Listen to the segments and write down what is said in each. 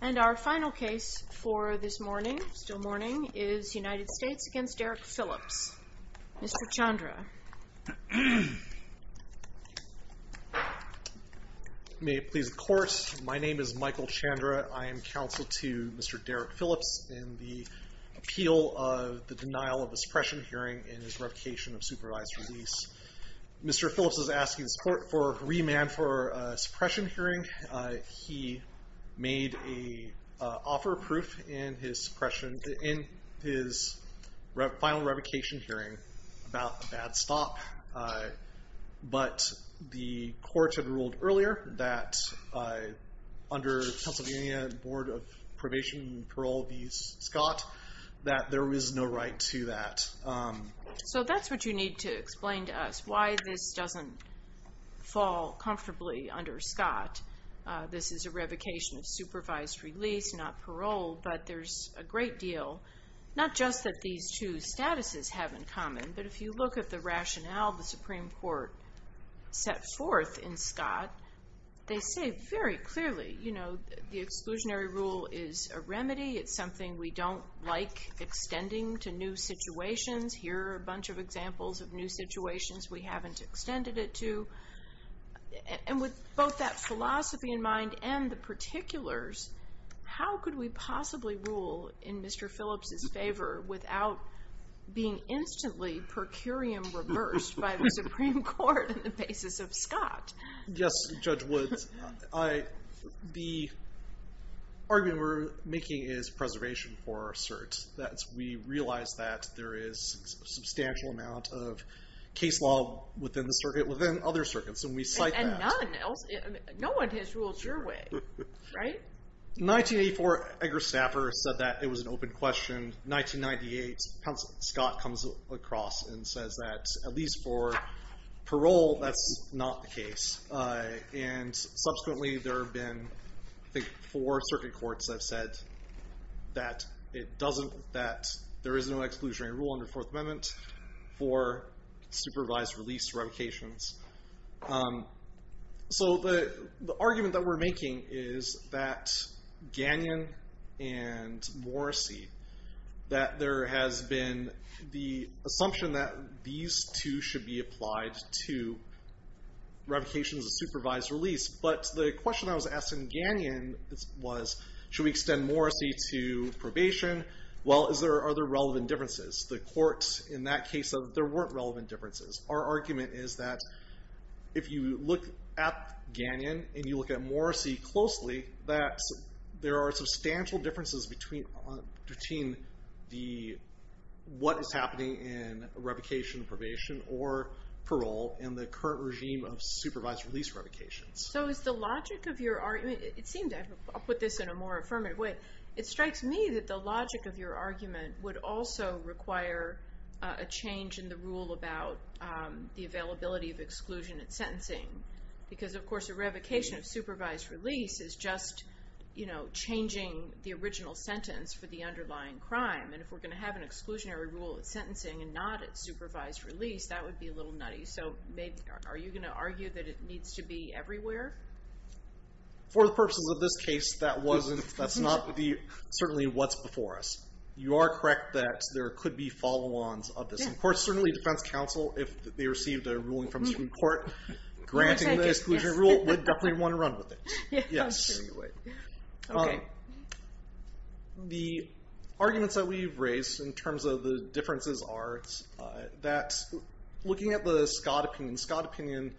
And our final case for this morning, still morning, is United States v. Derrick Phillips. Mr. Chandra. May it please the Court, my name is Michael Chandra. I am counsel to Mr. Derrick Phillips in the appeal of the denial of a suppression hearing in his revocation of supervised release. Mr. Phillips is asking the Court for remand for a suppression hearing. He made an offer of proof in his final revocation hearing about a bad stop. But the Court had ruled earlier that under Pennsylvania Board of Probation and Parole v. Scott that there was no right to that. So that's what you need to explain to us, why this doesn't fall comfortably under Scott. This is a revocation of supervised release, not parole. But there's a great deal, not just that these two statuses have in common, but if you look at the rationale the Supreme Court set forth in Scott, they say very clearly, you know, the exclusionary rule is a remedy. It's something we don't like extending to new situations. Here are a bunch of examples of new situations we haven't extended it to. And with both that philosophy in mind and the particulars, how could we possibly rule in Mr. Phillips' favor without being instantly per curiam reversed by the Supreme Court on the basis of Scott? Yes, Judge Woods. The argument we're making is preservation for certs. That we realize that there is a substantial amount of case law within the circuit, within other circuits, and we cite that. And none else. No one has ruled your way, right? In 1984, Edgar Stafford said that it was an open question. In 1998, counsel Scott comes across and says that at least for parole, that's not the case. And subsequently there have been, I think, four circuit courts that have said that it doesn't, that there is no exclusionary rule under Fourth Amendment for supervised release revocations. So the argument that we're making is that Gagnon and Morrissey, that there has been the assumption that these two should be applied to revocations of supervised release. But the question I was asked in Gagnon was, should we extend Morrissey to probation? Well, are there relevant differences? The courts in that case, there weren't relevant differences. Our argument is that if you look at Gagnon and you look at Morrissey closely, that there are substantial differences between what is happening in revocation, probation, or parole in the current regime of supervised release revocations. So is the logic of your argument, it seemed, I'll put this in a more affirmative way, it strikes me that the logic of your argument would also require a change in the rule about the availability of exclusion at sentencing. Because, of course, a revocation of supervised release is just changing the original sentence for the underlying crime. And if we're going to have an exclusionary rule at sentencing and not at supervised release, that would be a little nutty. So are you going to argue that it needs to be everywhere? For the purposes of this case, that's not certainly what's before us. You are correct that there could be follow-ons of this. Of course, certainly defense counsel, if they received a ruling from the Supreme Court granting the exclusionary rule, would definitely want to run with it. The arguments that we've raised in terms of the differences are that, looking at the Scott opinion, Scott opinion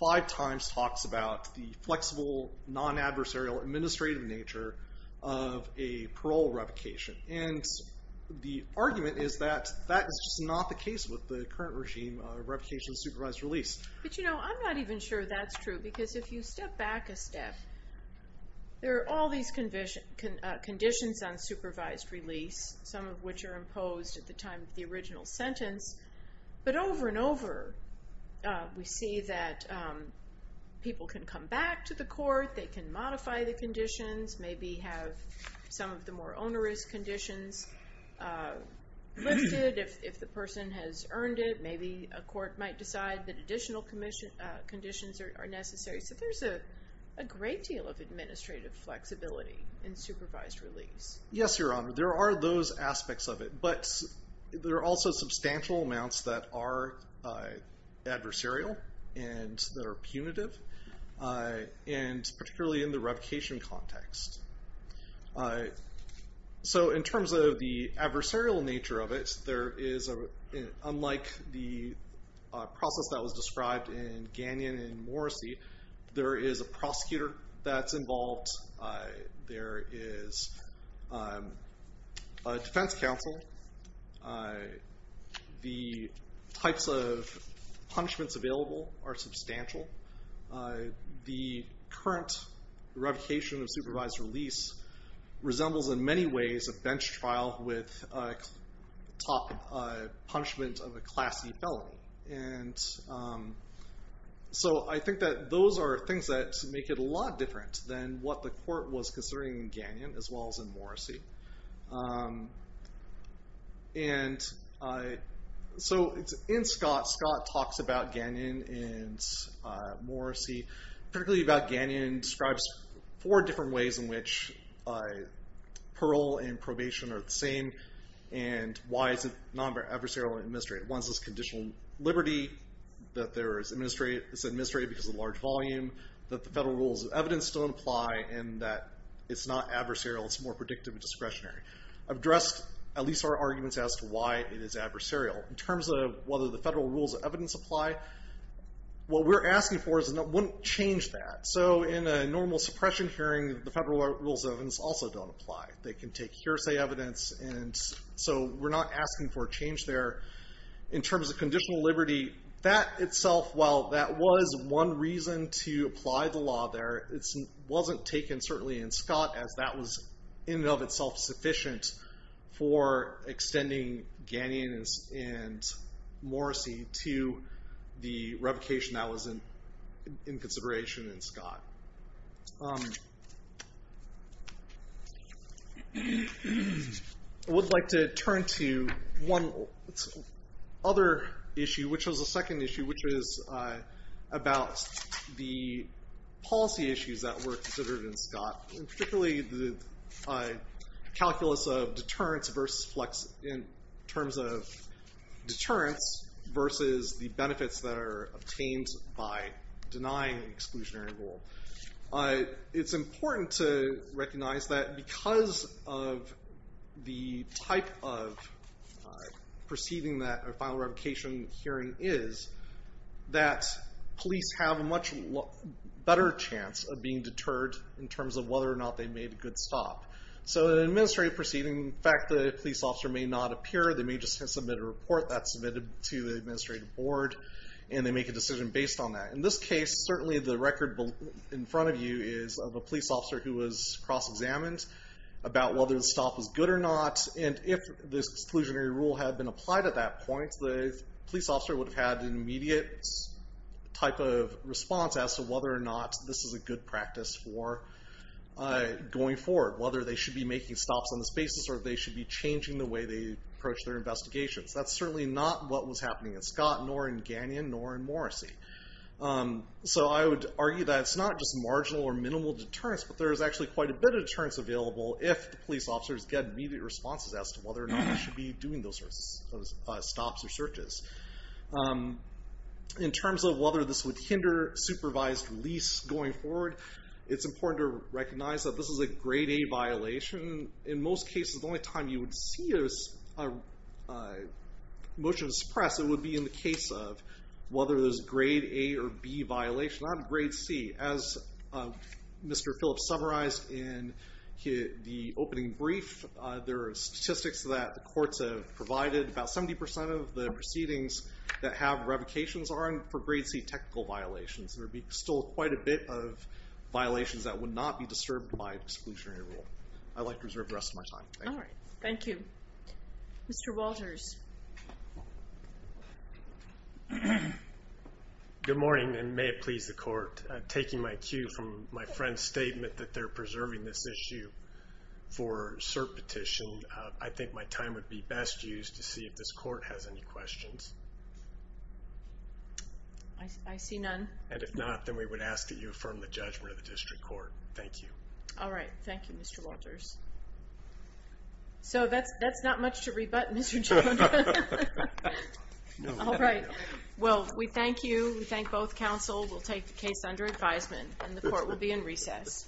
five times talks about the flexible, non-adversarial, administrative nature of a parole revocation. And the argument is that that is just not the case with the current regime of revocation of supervised release. But, you know, I'm not even sure that's true. Because if you step back a step, there are all these conditions on supervised release, some of which are imposed at the time of the original sentence. But over and over, we see that people can come back to the court, they can modify the conditions, maybe have some of the more onerous conditions lifted. If the person has earned it, maybe a court might decide that additional conditions are necessary. So there's a great deal of administrative flexibility in supervised release. Yes, Your Honor. There are those aspects of it. But there are also substantial amounts that are adversarial and that are punitive, and particularly in the revocation context. So in terms of the adversarial nature of it, there is, unlike the process that was described in Gagnon and Morrissey, there is a prosecutor that's involved. There is a defense counsel. The types of punishments available are substantial. The current revocation of supervised release resembles in many ways a bench trial with a punishment of a class E felony. And so I think that those are things that make it a lot different than what the court was considering in Gagnon, as well as in Morrissey. And so in Scott, Scott talks about Gagnon and Morrissey. Particularly about Gagnon, he describes four different ways in which parole and probation are the same, and why it's adversarial and administrative. One is conditional liberty, that it's administrative because of the large volume, that the federal rules of evidence don't apply, and that it's not adversarial. It's more predictive and discretionary. I've addressed at least our arguments as to why it is adversarial. In terms of whether the federal rules of evidence apply, what we're asking for is that it wouldn't change that. So in a normal suppression hearing, the federal rules of evidence also don't apply. They can take hearsay evidence, and so we're not asking for a change there. In terms of conditional liberty, that itself, while that was one reason to apply the law there, it wasn't taken, certainly in Scott, as that was in and of itself sufficient for extending Gagnon and Morrissey to the revocation that was in consideration in Scott. I would like to turn to one other issue, which was a second issue, which was about the policy issues that were considered in Scott. Particularly the calculus of deterrence versus flex, in terms of deterrence versus the benefits that are obtained by denying exclusionary rule. It's important to recognize that because of the type of proceeding that a final revocation hearing is, that police have a much better chance of being deterred in terms of whether or not they made a good stop. In an administrative proceeding, in fact, the police officer may not appear. They may just submit a report that's submitted to the administrative board, and they make a decision based on that. In this case, certainly the record in front of you is of a police officer who was cross-examined about whether the stop was good or not. If this exclusionary rule had been applied at that point, the police officer would have had an immediate type of response as to whether or not this is a good practice for going forward. Whether they should be making stops on this basis, or they should be changing the way they approach their investigations. That's certainly not what was happening in Scott, nor in Gagnon, nor in Morrissey. I would argue that it's not just marginal or minimal deterrence, but there is actually quite a bit of deterrence available if the police officers get immediate responses as to whether or not they should be doing those stops or searches. In terms of whether this would hinder supervised release going forward, it's important to recognize that this is a grade A violation. In most cases, the only time you would see a motion to suppress it would be in the case of whether there's a grade A or B violation on grade C. As Mr. Phillips summarized in the opening brief, there are statistics that the courts have provided. About 70% of the proceedings that have revocations are for grade C technical violations. There would still be quite a bit of violations that would not be disturbed by exclusionary rule. I'd like to reserve the rest of my time. Thank you. Thank you. Mr. Walters. Good morning, and may it please the court. Taking my cue from my friend's statement that they're preserving this issue for cert petition, I think my time would be best used to see if this court has any questions. I see none. And if not, then we would ask that you affirm the judgment of the district court. Thank you. All right. Thank you, Mr. Walters. So that's not much to rebut, Mr. Jones. All right. Well, we thank you. We thank both counsel. We'll take the case under advisement, and the court will be in recess.